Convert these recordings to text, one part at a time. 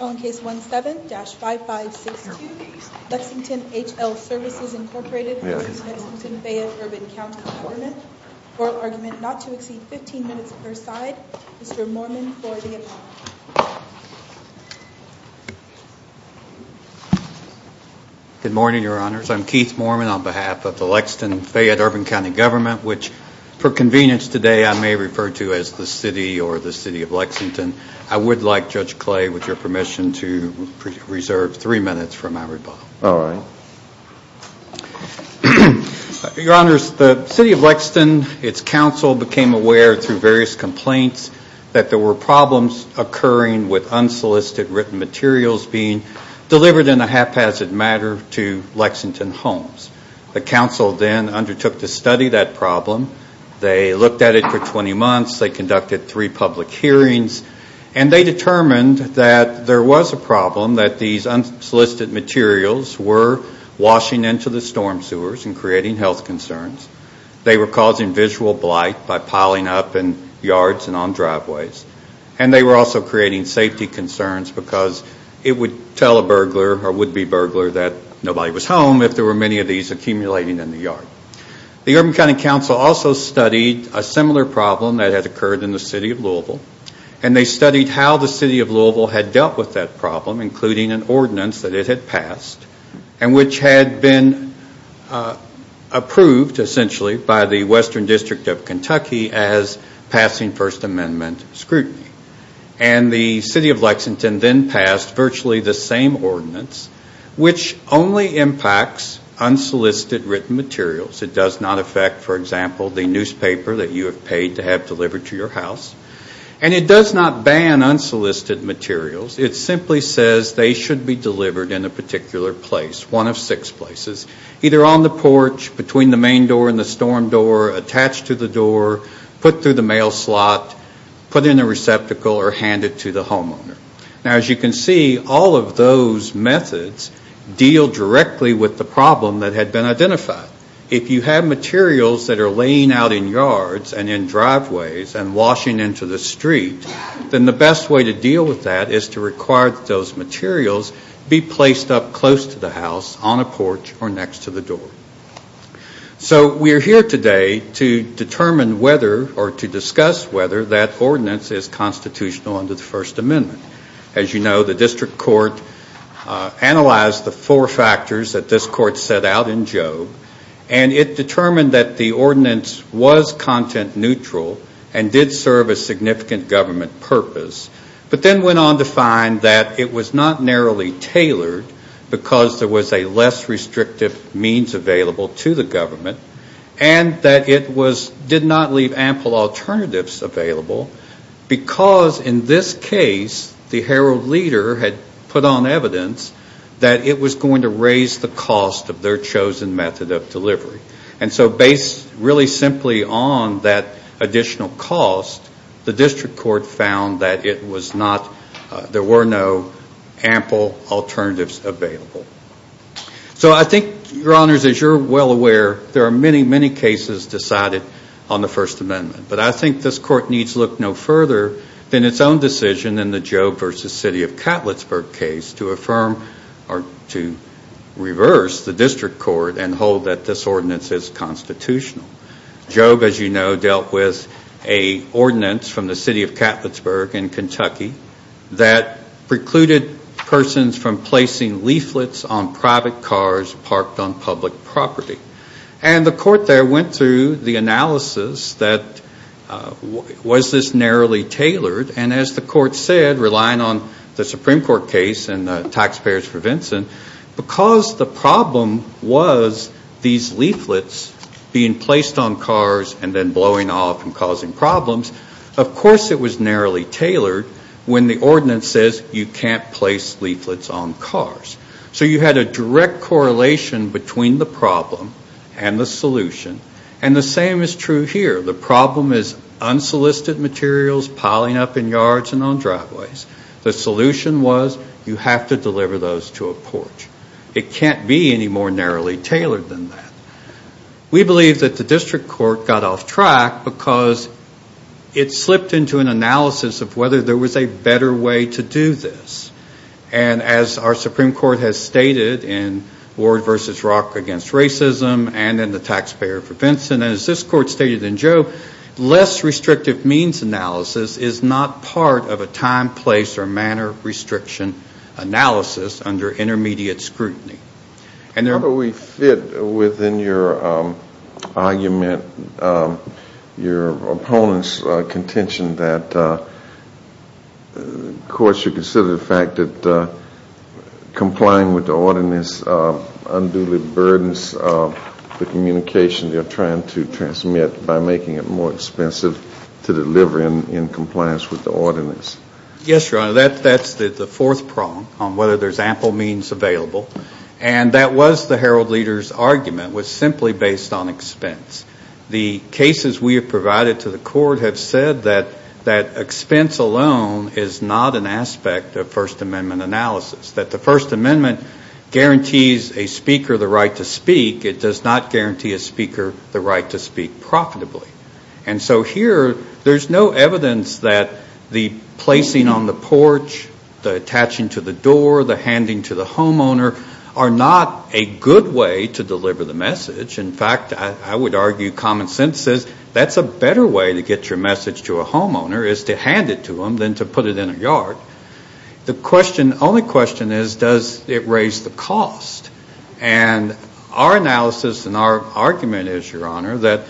On Case 17-5562, Lexington H-L Services Inc v. Lexington-Fayette Urb Cty Gvt, oral argument not to exceed 15 minutes per side, Mr. Mormon for the apology. Good morning, Your Honors. I'm Keith Mormon on behalf of the Lexington-Fayette Urb Cty Gvt, which, for convenience today, I may refer to as the City or the City of Lexington. I would like, Judge Clay, with your permission, to reserve three minutes for my rebuttal. All right. Your Honors, the City of Lexington, its council became aware through various complaints that there were problems occurring with unsolicited written materials being delivered in a haphazard manner to Lexington homes. The council then undertook to study that problem. They looked at it for 20 months. They conducted three public hearings. And they determined that there was a problem, that these unsolicited materials were washing into the storm sewers and creating health concerns. They were causing visual blight by piling up in yards and on driveways. And they were also creating safety concerns because it would tell a burglar or would-be burglar that nobody was home if there were many of these accumulating in the yard. The Urban County Council also studied a similar problem that had occurred in the City of Louisville. And they studied how the City of Louisville had dealt with that problem, including an ordinance that it had passed and which had been approved, essentially, by the Western District of Kentucky as passing First Amendment scrutiny. And the City of Lexington then passed virtually the same ordinance, which only impacts unsolicited written materials. It does not affect, for example, the newspaper that you have paid to have delivered to your house. And it does not ban unsolicited materials. It simply says they should be delivered in a particular place, one of six places, either on the porch, between the main door and the storm door, attached to the door, put through the mail slot, put in a receptacle, or hand it to the homeowner. Now, as you can see, all of those methods deal directly with the problem that had been identified. If you have materials that are laying out in yards and in driveways and washing into the street, then the best way to deal with that is to require that those materials be placed up close to the house, on a porch, or next to the door. So we are here today to determine whether, or to discuss whether, that ordinance is constitutional under the First Amendment. As you know, the district court analyzed the four factors that this court set out in Job, and it determined that the ordinance was content neutral and did serve a significant government purpose, but then went on to find that it was not narrowly tailored, because there was a less restrictive means available to the government, and that it did not leave ample alternatives available, because in this case the herald leader had put on evidence that it was going to raise the cost of their chosen method of delivery. And so based really simply on that additional cost, the district court found that there were no ample alternatives available. So I think, Your Honors, as you're well aware, there are many, many cases decided on the First Amendment, but I think this court needs look no further than its own decision in the Job v. City of Catlettsburg case to affirm or to reverse the district court and hold that this ordinance is constitutional. Job, as you know, dealt with an ordinance from the City of Catlettsburg in Kentucky that precluded persons from placing leaflets on private cars parked on public property. And the court there went through the analysis that was this narrowly tailored, and as the court said, relying on the Supreme Court case and the taxpayers for Vinson, because the problem was these leaflets being placed on cars and then blowing off and causing problems, of course it was narrowly tailored when the ordinance says you can't place leaflets on cars. So you had a direct correlation between the problem and the solution, and the same is true here. The problem is unsolicited materials piling up in yards and on driveways. The solution was you have to deliver those to a porch. It can't be any more narrowly tailored than that. We believe that the district court got off track because it slipped into an analysis of whether there was a better way to do this. And as our Supreme Court has stated in Ward v. Rock v. Racism and in the Taxpayer for Vinson, and as this court stated in Joe, less restrictive means analysis is not part of a time, place, or manner restriction analysis under intermediate scrutiny. How do we fit within your argument, your opponent's contention that courts should consider the fact that complying with the ordinance unduly burdens the communication they're trying to transmit by making it more expensive to deliver in compliance with the ordinance? Yes, Your Honor, that's the fourth prong on whether there's ample means available. And that was the Herald-Leader's argument was simply based on expense. The cases we have provided to the court have said that expense alone is not an aspect of First Amendment analysis, that the First Amendment guarantees a speaker the right to speak. It does not guarantee a speaker the right to speak profitably. And so here there's no evidence that the placing on the porch, the attaching to the door, the handing to the homeowner are not a good way to deliver the message. In fact, I would argue common sense says that's a better way to get your message to a homeowner is to hand it to them than to put it in a yard. The only question is does it raise the cost? And our analysis and our argument is, Your Honor, that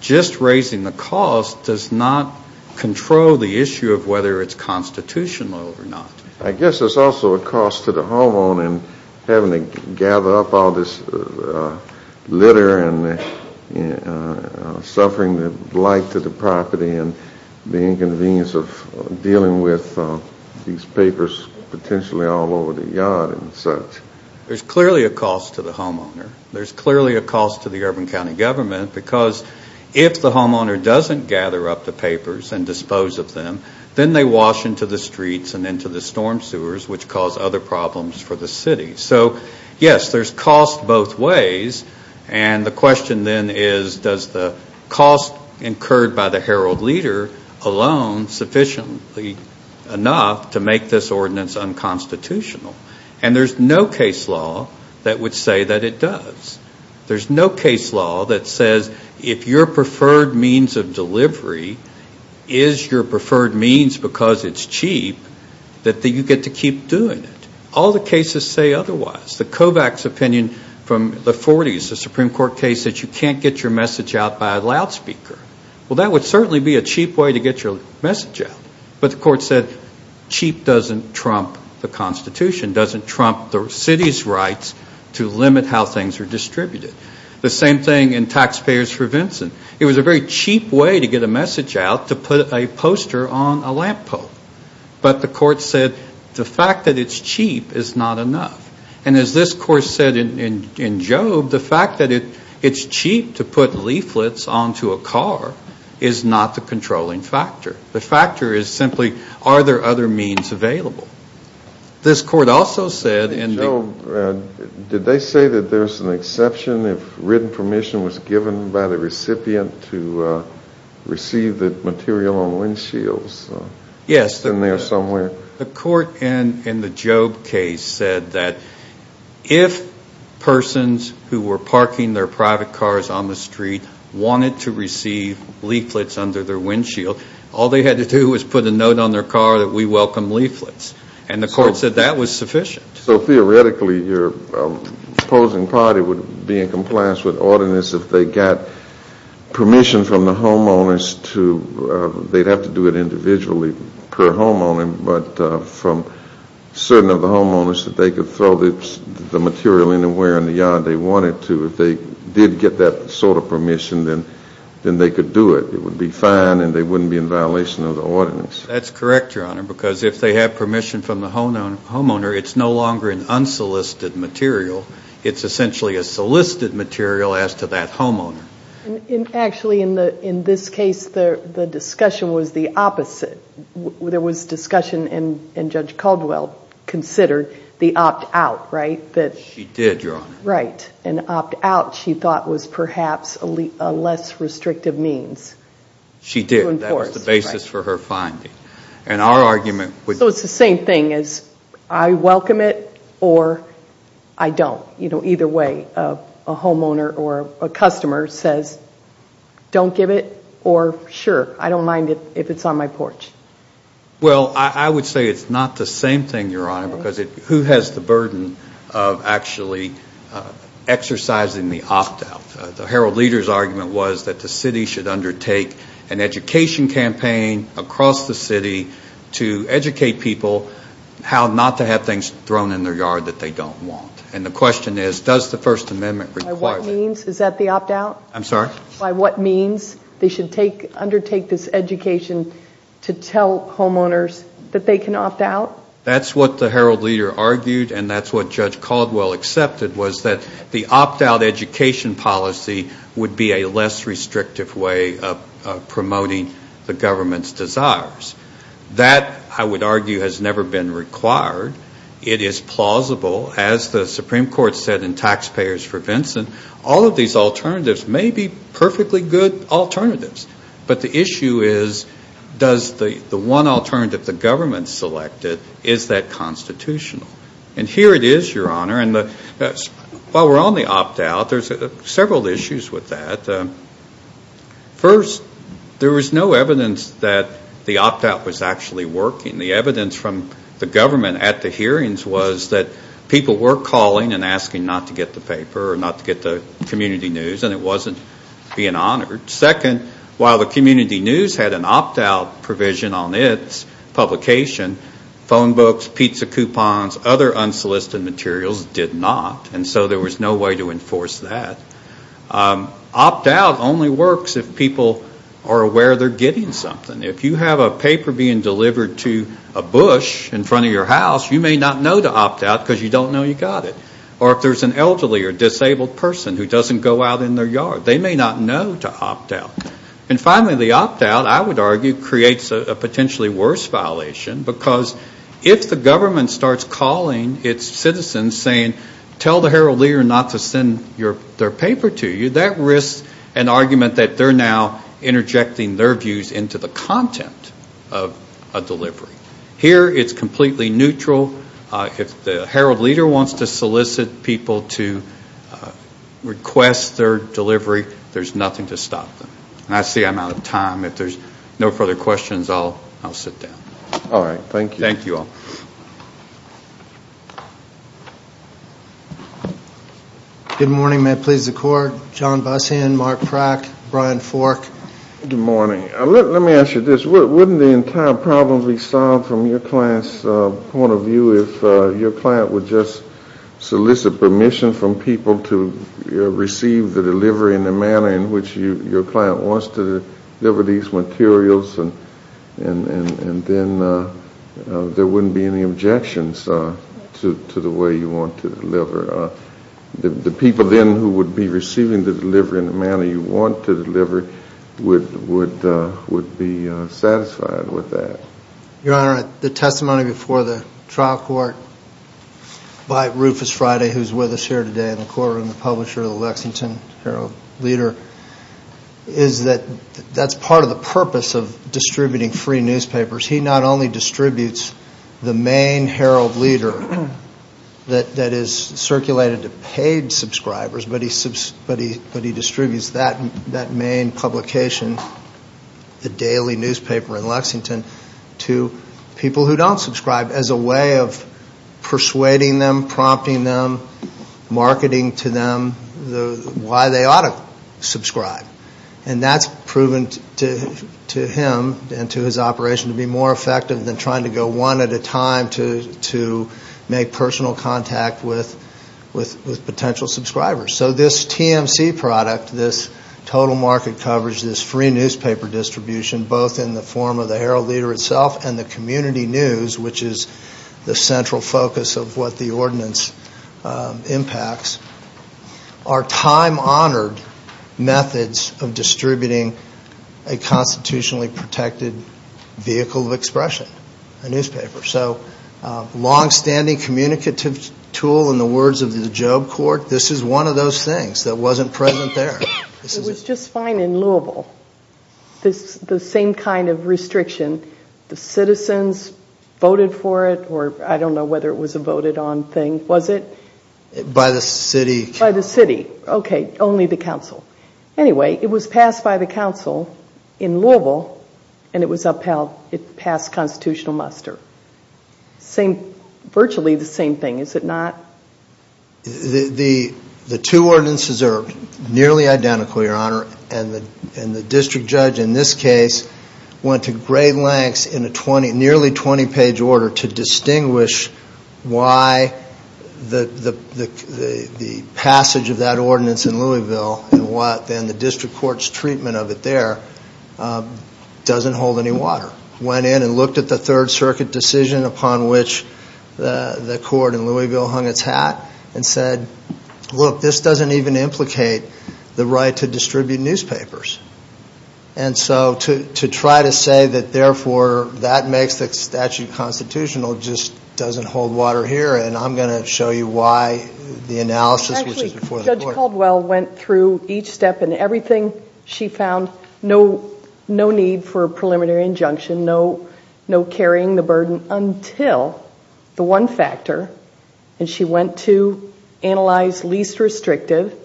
just raising the cost does not control the issue of whether it's constitutional or not. I guess there's also a cost to the homeowner in having to gather up all this litter and suffering the blight to the property and the inconvenience of dealing with these papers potentially all over the yard and such. There's clearly a cost to the homeowner. There's clearly a cost to the urban county government because if the homeowner doesn't gather up the papers and dispose of them, then they wash into the streets and into the storm sewers, which cause other problems for the city. So, yes, there's cost both ways. And the question then is does the cost incurred by the herald leader alone sufficiently enough to make this ordinance unconstitutional? And there's no case law that would say that it does. There's no case law that says if your preferred means of delivery is your preferred means because it's cheap, that you get to keep doing it. All the cases say otherwise. The Kovacs opinion from the 40s, the Supreme Court case, said you can't get your message out by a loudspeaker. Well, that would certainly be a cheap way to get your message out. But the court said cheap doesn't trump the Constitution, doesn't trump the city's rights to limit how things are distributed. The same thing in taxpayers for Vincent. It was a very cheap way to get a message out to put a poster on a lamppost. But the court said the fact that it's cheap is not enough. And as this court said in Job, the fact that it's cheap to put leaflets onto a car is not the controlling factor. The factor is simply are there other means available? This court also said in Job, did they say that there's an exception if written permission was given by the recipient to receive the material on windshields? Yes. In there somewhere? The court in the Job case said that if persons who were parking their private cars on the street wanted to receive leaflets under their windshield, all they had to do was put a note on their car that we welcome leaflets. And the court said that was sufficient. So theoretically your opposing party would be in compliance with ordinance if they got permission from the homeowners to, they'd have to do it individually per homeowner, but from certain of the homeowners that they could throw the material anywhere in the yard they wanted to. If they did get that sort of permission, then they could do it. It would be fine and they wouldn't be in violation of the ordinance. That's correct, Your Honor, because if they have permission from the homeowner, it's no longer an unsolicited material. It's essentially a solicited material as to that homeowner. Actually, in this case, the discussion was the opposite. There was discussion, and Judge Caldwell considered the opt-out, right? She did, Your Honor. Right. An opt-out, she thought, was perhaps a less restrictive means. She did. That was the basis for her finding. So it's the same thing as I welcome it or I don't. Either way, a homeowner or a customer says don't give it or sure, I don't mind if it's on my porch. Well, I would say it's not the same thing, Your Honor, because who has the burden of actually exercising the opt-out? The Herald Leader's argument was that the city should undertake an education campaign across the city to educate people how not to have things thrown in their yard that they don't want. And the question is, does the First Amendment require that? By what means? Is that the opt-out? I'm sorry? By what means they should undertake this education to tell homeowners that they can opt-out? That's what the Herald Leader argued, and that's what Judge Caldwell accepted, was that the opt-out education policy would be a less restrictive way of promoting the government's desires. That, I would argue, has never been required. It is plausible. As the Supreme Court said in Taxpayers for Vincent, all of these alternatives may be perfectly good alternatives, but the issue is does the one alternative the government selected, is that constitutional? And here it is, Your Honor, and while we're on the opt-out, there's several issues with that. First, there was no evidence that the opt-out was actually working. The evidence from the government at the hearings was that people were calling and asking not to get the paper or not to get the community news, and it wasn't being honored. Second, while the community news had an opt-out provision on its publication, phone books, pizza coupons, other unsolicited materials did not. And so there was no way to enforce that. Opt-out only works if people are aware they're getting something. If you have a paper being delivered to a bush in front of your house, you may not know to opt-out because you don't know you got it. Or if there's an elderly or disabled person who doesn't go out in their yard, they may not know to opt-out. And finally, the opt-out, I would argue, creates a potentially worse violation because if the government starts calling its citizens saying, tell the Herald-Lear not to send their paper to you, that risks an argument that they're now interjecting their views into the content of a delivery. Here it's completely neutral. If the Herald-Lear wants to solicit people to request their delivery, there's nothing to stop them. And I see I'm out of time. If there's no further questions, I'll sit down. All right. Thank you. Thank you all. Thank you. Good morning. May it please the Court. John Bussion, Mark Prack, Brian Fork. Good morning. Let me ask you this. Wouldn't the entire problem be solved from your client's point of view if your client would just solicit permission from people to receive the delivery in the manner in which your client wants to deliver these materials and then there wouldn't be any objections to the way you want to deliver? The people then who would be receiving the delivery in the manner you want to deliver would be satisfied with that? Your Honor, the testimony before the trial court by Rufus Friday, who's with us here today in the courtroom, the publisher of the Lexington Herald-Lear, is that that's part of the purpose of distributing free newspapers. He not only distributes the main Herald-Lear that is circulated to paid subscribers, but he distributes that main publication, the daily newspaper in Lexington, to people who don't subscribe as a way of persuading them, prompting them, marketing to them why they ought to subscribe. And that's proven to him and to his operation to be more effective than trying to go one at a time to make personal contact with potential subscribers. So this TMC product, this total market coverage, this free newspaper distribution, both in the form of the Herald-Lear itself and the community news, which is the central focus of what the ordinance impacts, are time-honored methods of distributing a constitutionally protected vehicle of expression, a newspaper. So longstanding communicative tool in the words of the Job Court, this is one of those things that wasn't present there. It was just fine in Louisville, the same kind of restriction. The citizens voted for it, or I don't know whether it was a voted on thing. Was it? By the city. By the city. Okay, only the council. Anyway, it was passed by the council in Louisville, and it was upheld. It passed constitutional muster. Virtually the same thing, is it not? The two ordinances are nearly identical, Your Honor, and the district judge in this case went to great lengths in a nearly 20-page order to distinguish why the passage of that ordinance in Louisville and the district court's treatment of it there doesn't hold any water. Went in and looked at the Third Circuit decision upon which the court in Louisville hung its hat and said, look, this doesn't even implicate the right to distribute newspapers. And so to try to say that, therefore, that makes the statute constitutional just doesn't hold water here, and I'm going to show you why the analysis was before the court. Actually, Judge Caldwell went through each step and everything. She found no need for a preliminary injunction, no carrying the burden, until the one factor, and she went to analyze least restrictive,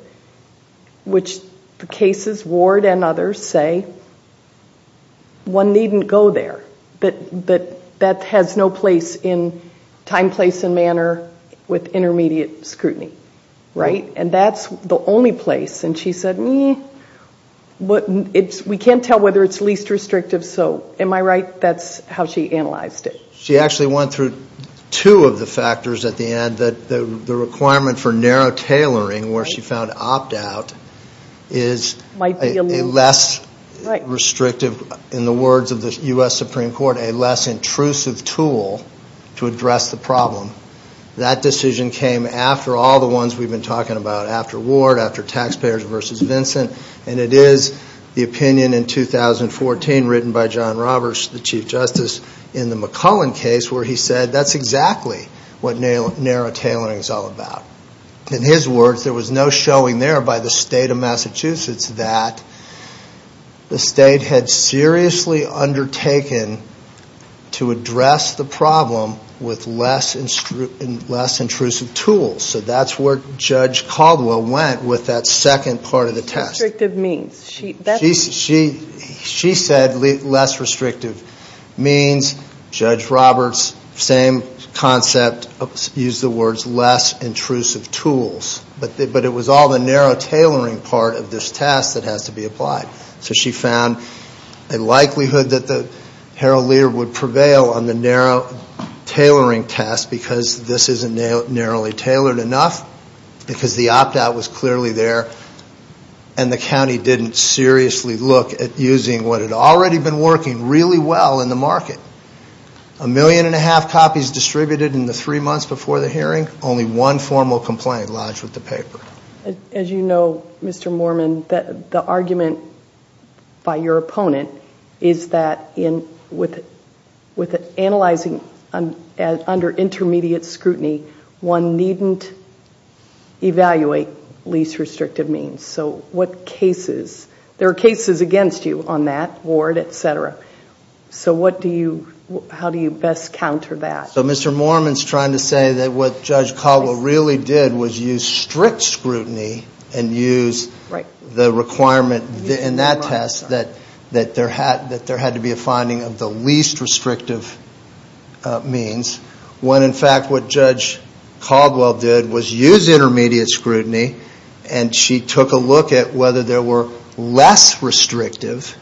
which the cases, Ward and others, say one needn't go there. But that has no place in time, place, and manner with intermediate scrutiny, right? And that's the only place. And she said, we can't tell whether it's least restrictive, so am I right? That's how she analyzed it. She actually went through two of the factors at the end, that the requirement for narrow tailoring, where she found opt-out, is a less restrictive, in the words of the U.S. Supreme Court, a less intrusive tool to address the problem. That decision came after all the ones we've been talking about after Ward, after Taxpayers v. Vincent, and it is the opinion in 2014 written by John Roberts, the Chief Justice, in the McCullen case, where he said, that's exactly what narrow tailoring is all about. In his words, there was no showing there by the State of Massachusetts that the State had seriously undertaken to address the problem with less intrusive tools. So that's where Judge Caldwell went with that second part of the test. She said less restrictive means. Judge Roberts, same concept, used the words less intrusive tools. But it was all the narrow tailoring part of this test that has to be applied. So she found a likelihood that the paralegal would prevail on the narrow tailoring test, because this isn't narrowly tailored enough, because the opt-out was clearly there, and the county didn't seriously look at using what had already been working really well in the market. A million and a half copies distributed in the three months before the hearing, only one formal complaint lodged with the paper. As you know, Mr. Mormon, the argument by your opponent is that with analyzing under intermediate scrutiny, one needn't evaluate least restrictive means. So what cases? There are cases against you on that, Ward, et cetera. So how do you best counter that? So Mr. Mormon's trying to say that what Judge Caldwell really did was use strict scrutiny and use the requirement in that test that there had to be a finding of the least restrictive means, when in fact what Judge Caldwell did was use intermediate scrutiny and she took a look at whether there were less restrictive,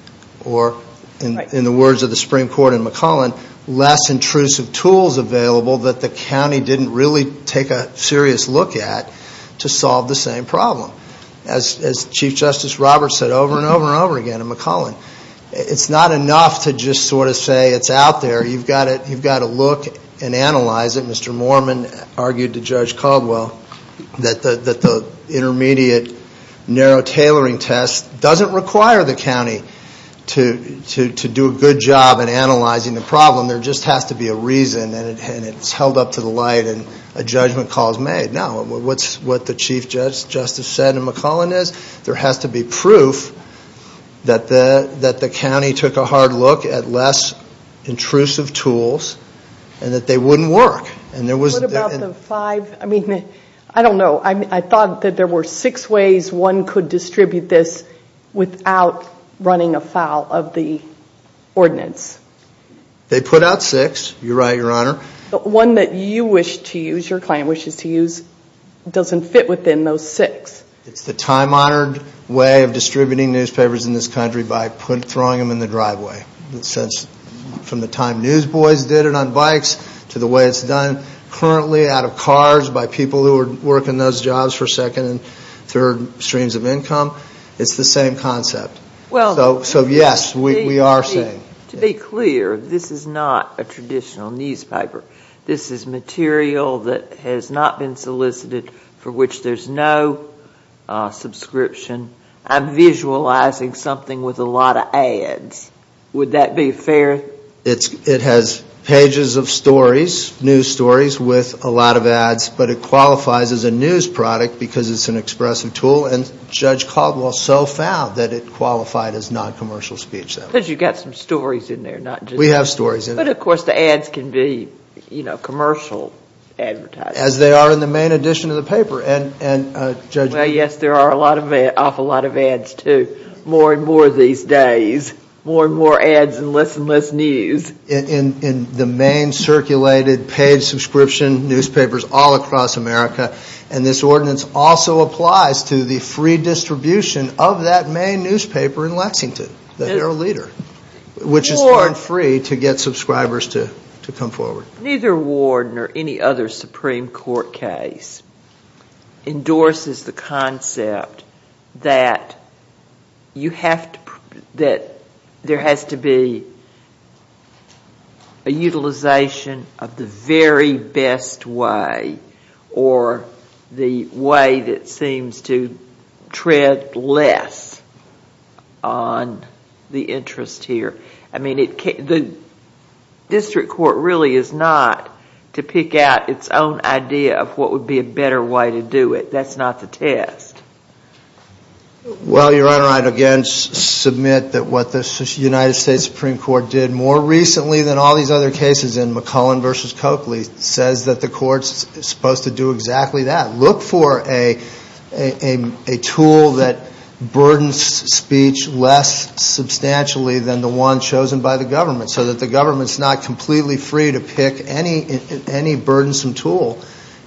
or in the words of the Supreme Court in McClellan, less intrusive tools available that the county didn't really take a serious look at to solve the same problem. As Chief Justice Roberts said over and over and over again in McClellan, it's not enough to just sort of say it's out there. You've got to look and analyze it. Mr. Mormon argued to Judge Caldwell that the intermediate narrow tailoring test doesn't require the county to do a good job in analyzing the problem. There just has to be a reason, and it's held up to the light, and a judgment call is made. No, what the Chief Justice said in McClellan is there has to be proof that the county took a hard look at less intrusive tools and that they wouldn't work. What about the five? I mean, I don't know. I thought that there were six ways one could distribute this without running afoul of the ordinance. They put out six. You're right, Your Honor. The one that you wish to use, your client wishes to use, doesn't fit within those six. It's the time-honored way of distributing newspapers in this country by throwing them in the driveway. From the time newsboys did it on bikes to the way it's done currently out of cars by people who are working those jobs for second and third streams of income, it's the same concept. So, yes, we are saying. To be clear, this is not a traditional newspaper. This is material that has not been solicited for which there's no subscription. I'm visualizing something with a lot of ads. Would that be fair? It has pages of stories, news stories, with a lot of ads, but it qualifies as a news product because it's an expressive tool, and Judge Caldwell so found that it qualified as noncommercial speech. Because you've got some stories in there, not just news. We have stories in there. But, of course, the ads can be commercial advertising. As they are in the main edition of the paper. Well, yes, there are an awful lot of ads, too. More and more these days. More and more ads and less and less news. In the main circulated paid subscription newspapers all across America. And this ordinance also applies to the free distribution of that main newspaper in Lexington, the Herald-Leader, which is for free to get subscribers to come forward. Neither Ward nor any other Supreme Court case endorses the concept that there has to be a utilization of the very best way or the way that seems to tread less on the interest here. I mean, the district court really is not to pick out its own idea of what would be a better way to do it. That's not the test. Well, Your Honor, I'd again submit that what the United States Supreme Court did more recently than all these other cases in McClellan v. Coakley says that the court's supposed to do exactly that. Look for a tool that burdens speech less substantially than the one chosen by the government so that the government's not completely free to pick any burdensome tool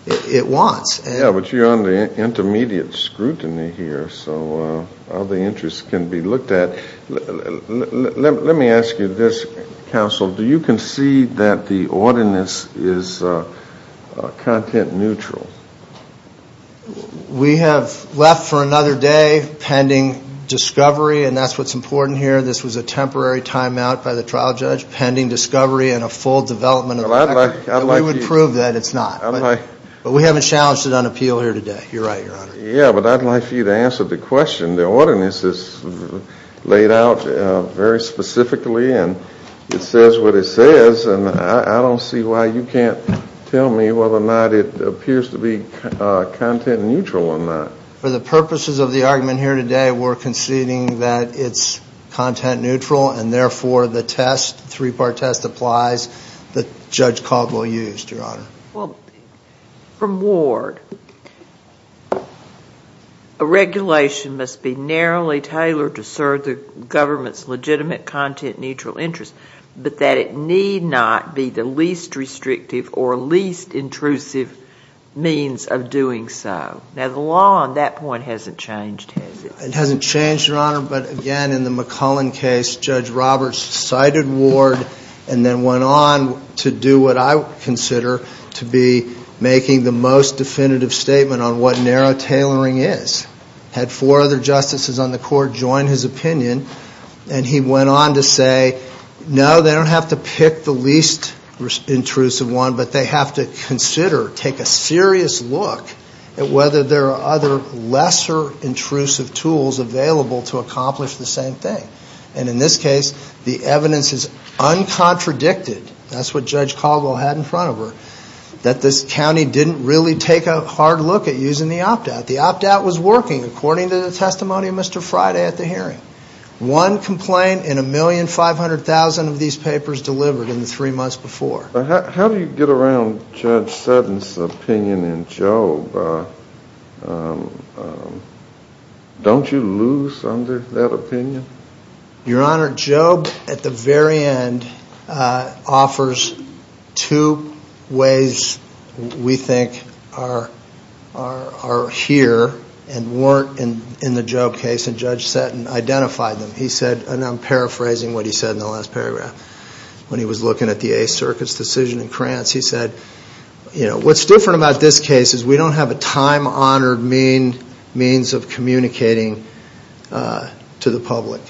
it wants. Yeah, but, Your Honor, intermediate scrutiny here. So all the interests can be looked at. Let me ask you this, counsel. Do you concede that the ordinance is content neutral? We have left for another day pending discovery, and that's what's important here. This was a temporary timeout by the trial judge pending discovery and a full development of the record. We would prove that it's not. But we haven't challenged it on appeal here today. You're right, Your Honor. Yeah, but I'd like for you to answer the question. The ordinance is laid out very specifically, and it says what it says, and I don't see why you can't tell me whether or not it appears to be content neutral or not. For the purposes of the argument here today, we're conceding that it's content neutral, and therefore the test, the three-part test applies that Judge Caldwell used, Your Honor. Well, from Ward, a regulation must be narrowly tailored to serve the government's legitimate content-neutral interest, but that it need not be the least restrictive or least intrusive means of doing so. Now, the law on that point hasn't changed, has it? It hasn't changed, Your Honor, but, again, in the McCullen case, Judge Roberts cited Ward and then went on to do what I consider to be making the most definitive statement on what narrow tailoring is. Had four other justices on the court join his opinion, and he went on to say, no, they don't have to pick the least intrusive one, but they have to consider, take a serious look at whether there are other lesser intrusive tools available to accomplish the same thing. And in this case, the evidence is uncontradicted, that's what Judge Caldwell had in front of her, that this county didn't really take a hard look at using the opt-out. The opt-out was working according to the testimony of Mr. Friday at the hearing. One complaint in 1,500,000 of these papers delivered in the three months before. How do you get around Judge Sutton's opinion in Job? Don't you lose under that opinion? Your Honor, Job, at the very end, offers two ways we think are here and weren't in the Job case, and Judge Sutton identified them. He said, and I'm paraphrasing what he said in the last paragraph, when he was looking at the Eighth Circuit's decision in Krantz, he said, what's different about this case is we don't have a time-honored means of communicating to the public.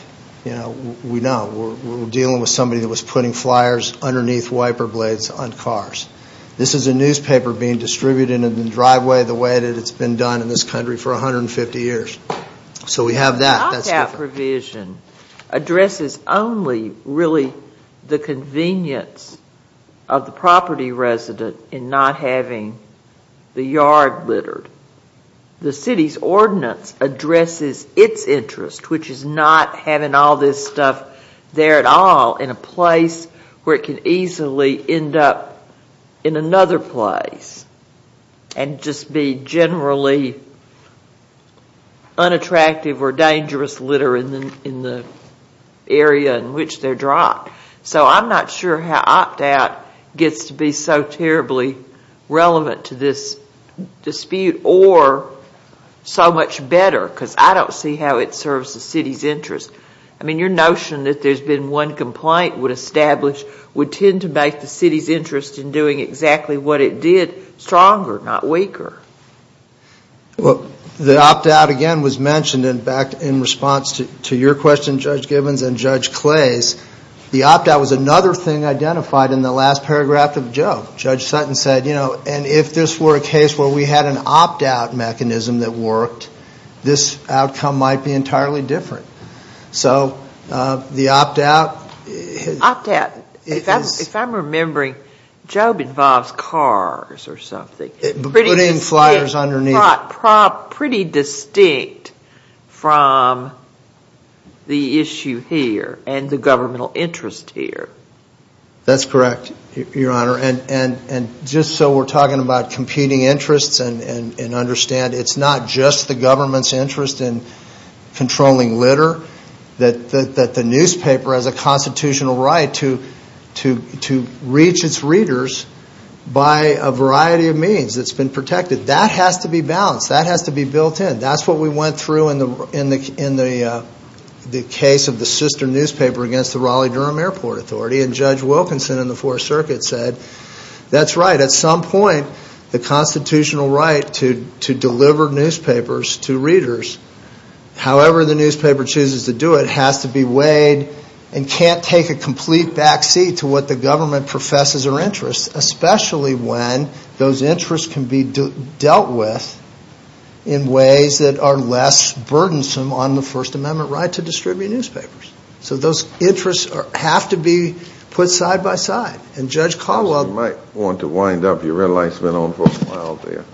We know. We're dealing with somebody that was putting flyers underneath wiper blades on cars. This is a newspaper being distributed in the driveway the way that it's been done in this country for 150 years. So we have that. That's different. The opt-out provision addresses only really the convenience of the property resident in not having the yard littered. The city's ordinance addresses its interest, which is not having all this stuff there at all in a place where it could easily end up in another place and just be generally unattractive or dangerous litter in the area in which they're dropped. So I'm not sure how opt-out gets to be so terribly relevant to this dispute or so much better, because I don't see how it serves the city's interest. I mean, your notion that there's been one complaint would establish, would tend to make the city's interest in doing exactly what it did stronger, not weaker. Well, the opt-out again was mentioned, in fact, in response to your question, Judge Gibbons and Judge Clay's. The opt-out was another thing identified in the last paragraph of Joe. Judge Sutton said, you know, and if this were a case where we had an opt-out mechanism that worked, this outcome might be entirely different. So the opt-out. Opt-out. If I'm remembering, Job involves cars or something. Pretty distinct. Putting flyers underneath. Pretty distinct from the issue here and the governmental interest here. That's correct, Your Honor, and just so we're talking about competing interests and understand it's not just the government's interest in controlling litter, that the newspaper has a constitutional right to reach its readers by a variety of means. It's been protected. That has to be balanced. That has to be built in. That's what we went through in the case of the sister newspaper against the Raleigh-Durham Airport Authority, and Judge Wilkinson in the Fourth Circuit said, that's right. At some point, the constitutional right to deliver newspapers to readers, however the newspaper chooses to do it, has to be weighed and can't take a complete backseat to what the government professes are interests, especially when those interests can be dealt with in ways that are less burdensome on the First Amendment right to distribute newspapers. So those interests have to be put side by side. And Judge Caldwell You might want to wind up. Your red light's been on for a while there.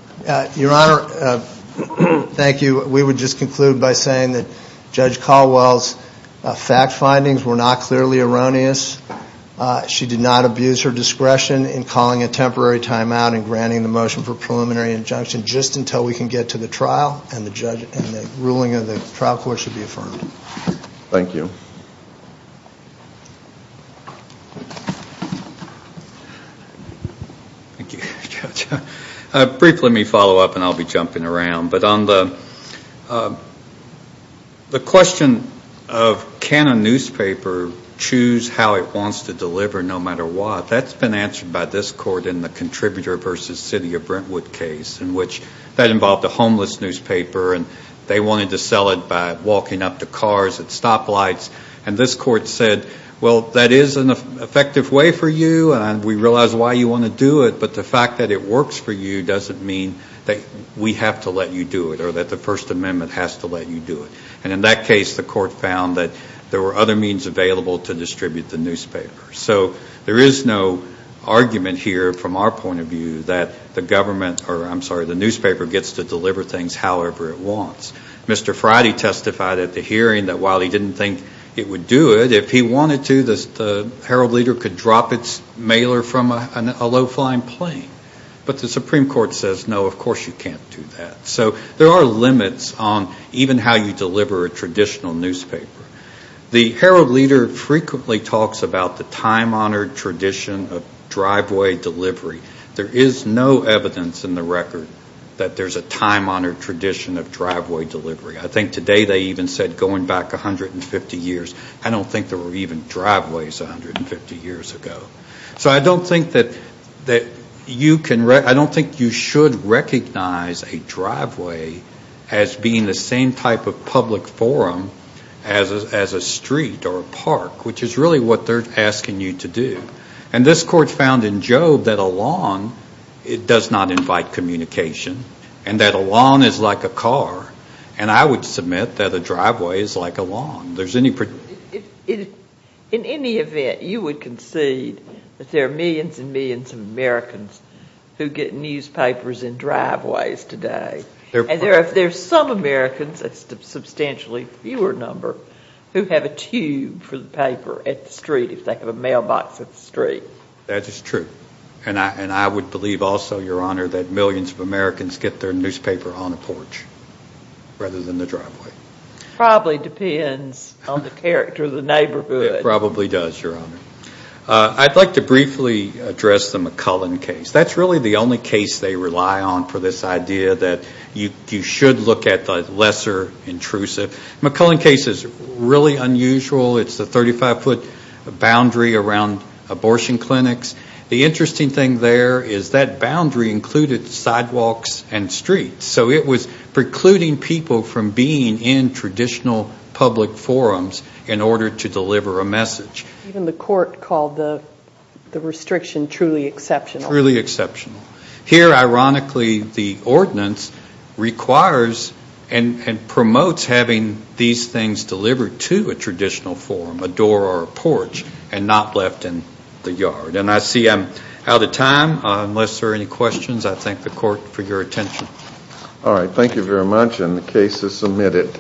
Your Honor, thank you. We would just conclude by saying that Judge Caldwell's fact findings were not clearly erroneous. She did not abuse her discretion in calling a temporary timeout and granting the motion for preliminary injunction just until we can get to the trial and the ruling of the trial court should be affirmed. Thank you. Thank you, Judge. Brief let me follow up and I'll be jumping around. But on the question of can a newspaper choose how it wants to deliver no matter what, that's been answered by this court in the Contributor v. City of Brentwood case in which that involved a homeless newspaper and they wanted to sell it by walking up to cars at stoplights. And this court said, well, that is an effective way for you and we realize why you want to do it, but the fact that it works for you doesn't mean that we have to let you do it or that the First Amendment has to let you do it. And in that case, the court found that there were other means available to distribute the newspaper. So there is no argument here from our point of view that the government or I'm sorry, the newspaper gets to deliver things however it wants. Mr. Friday testified at the hearing that while he didn't think it would do it, if he wanted to, the Herald-Leader could drop its mailer from a low-flying plane. But the Supreme Court says, no, of course you can't do that. So there are limits on even how you deliver a traditional newspaper. The Herald-Leader frequently talks about the time-honored tradition of driveway delivery. There is no evidence in the record that there's a time-honored tradition of driveway delivery. I think today they even said going back 150 years. I don't think there were even driveways 150 years ago. So I don't think that you should recognize a driveway as being the same type of public forum as a street or a park, which is really what they're asking you to do. And this Court found in Job that a lawn does not invite communication and that a lawn is like a car. And I would submit that a driveway is like a lawn. In any event, you would concede that there are millions and millions of Americans who get newspapers in driveways today. And there are some Americans, a substantially fewer number, who have a tube for the paper at the street if they have a mailbox at the street. That is true. And I would believe also, Your Honor, that millions of Americans get their newspaper on a porch rather than the driveway. Probably depends on the character of the neighborhood. It probably does, Your Honor. I'd like to briefly address the McCullen case. That's really the only case they rely on for this idea that you should look at the lesser intrusive. The McCullen case is really unusual. It's a 35-foot boundary around abortion clinics. The interesting thing there is that boundary included sidewalks and streets. So it was precluding people from being in traditional public forums in order to deliver a message. Even the Court called the restriction truly exceptional. Truly exceptional. Here, ironically, the ordinance requires and promotes having these things delivered to a traditional forum, a door or a porch, and not left in the yard. And I see I'm out of time. Unless there are any questions, I thank the Court for your attention. All right. Thank you very much. And the case is submitted.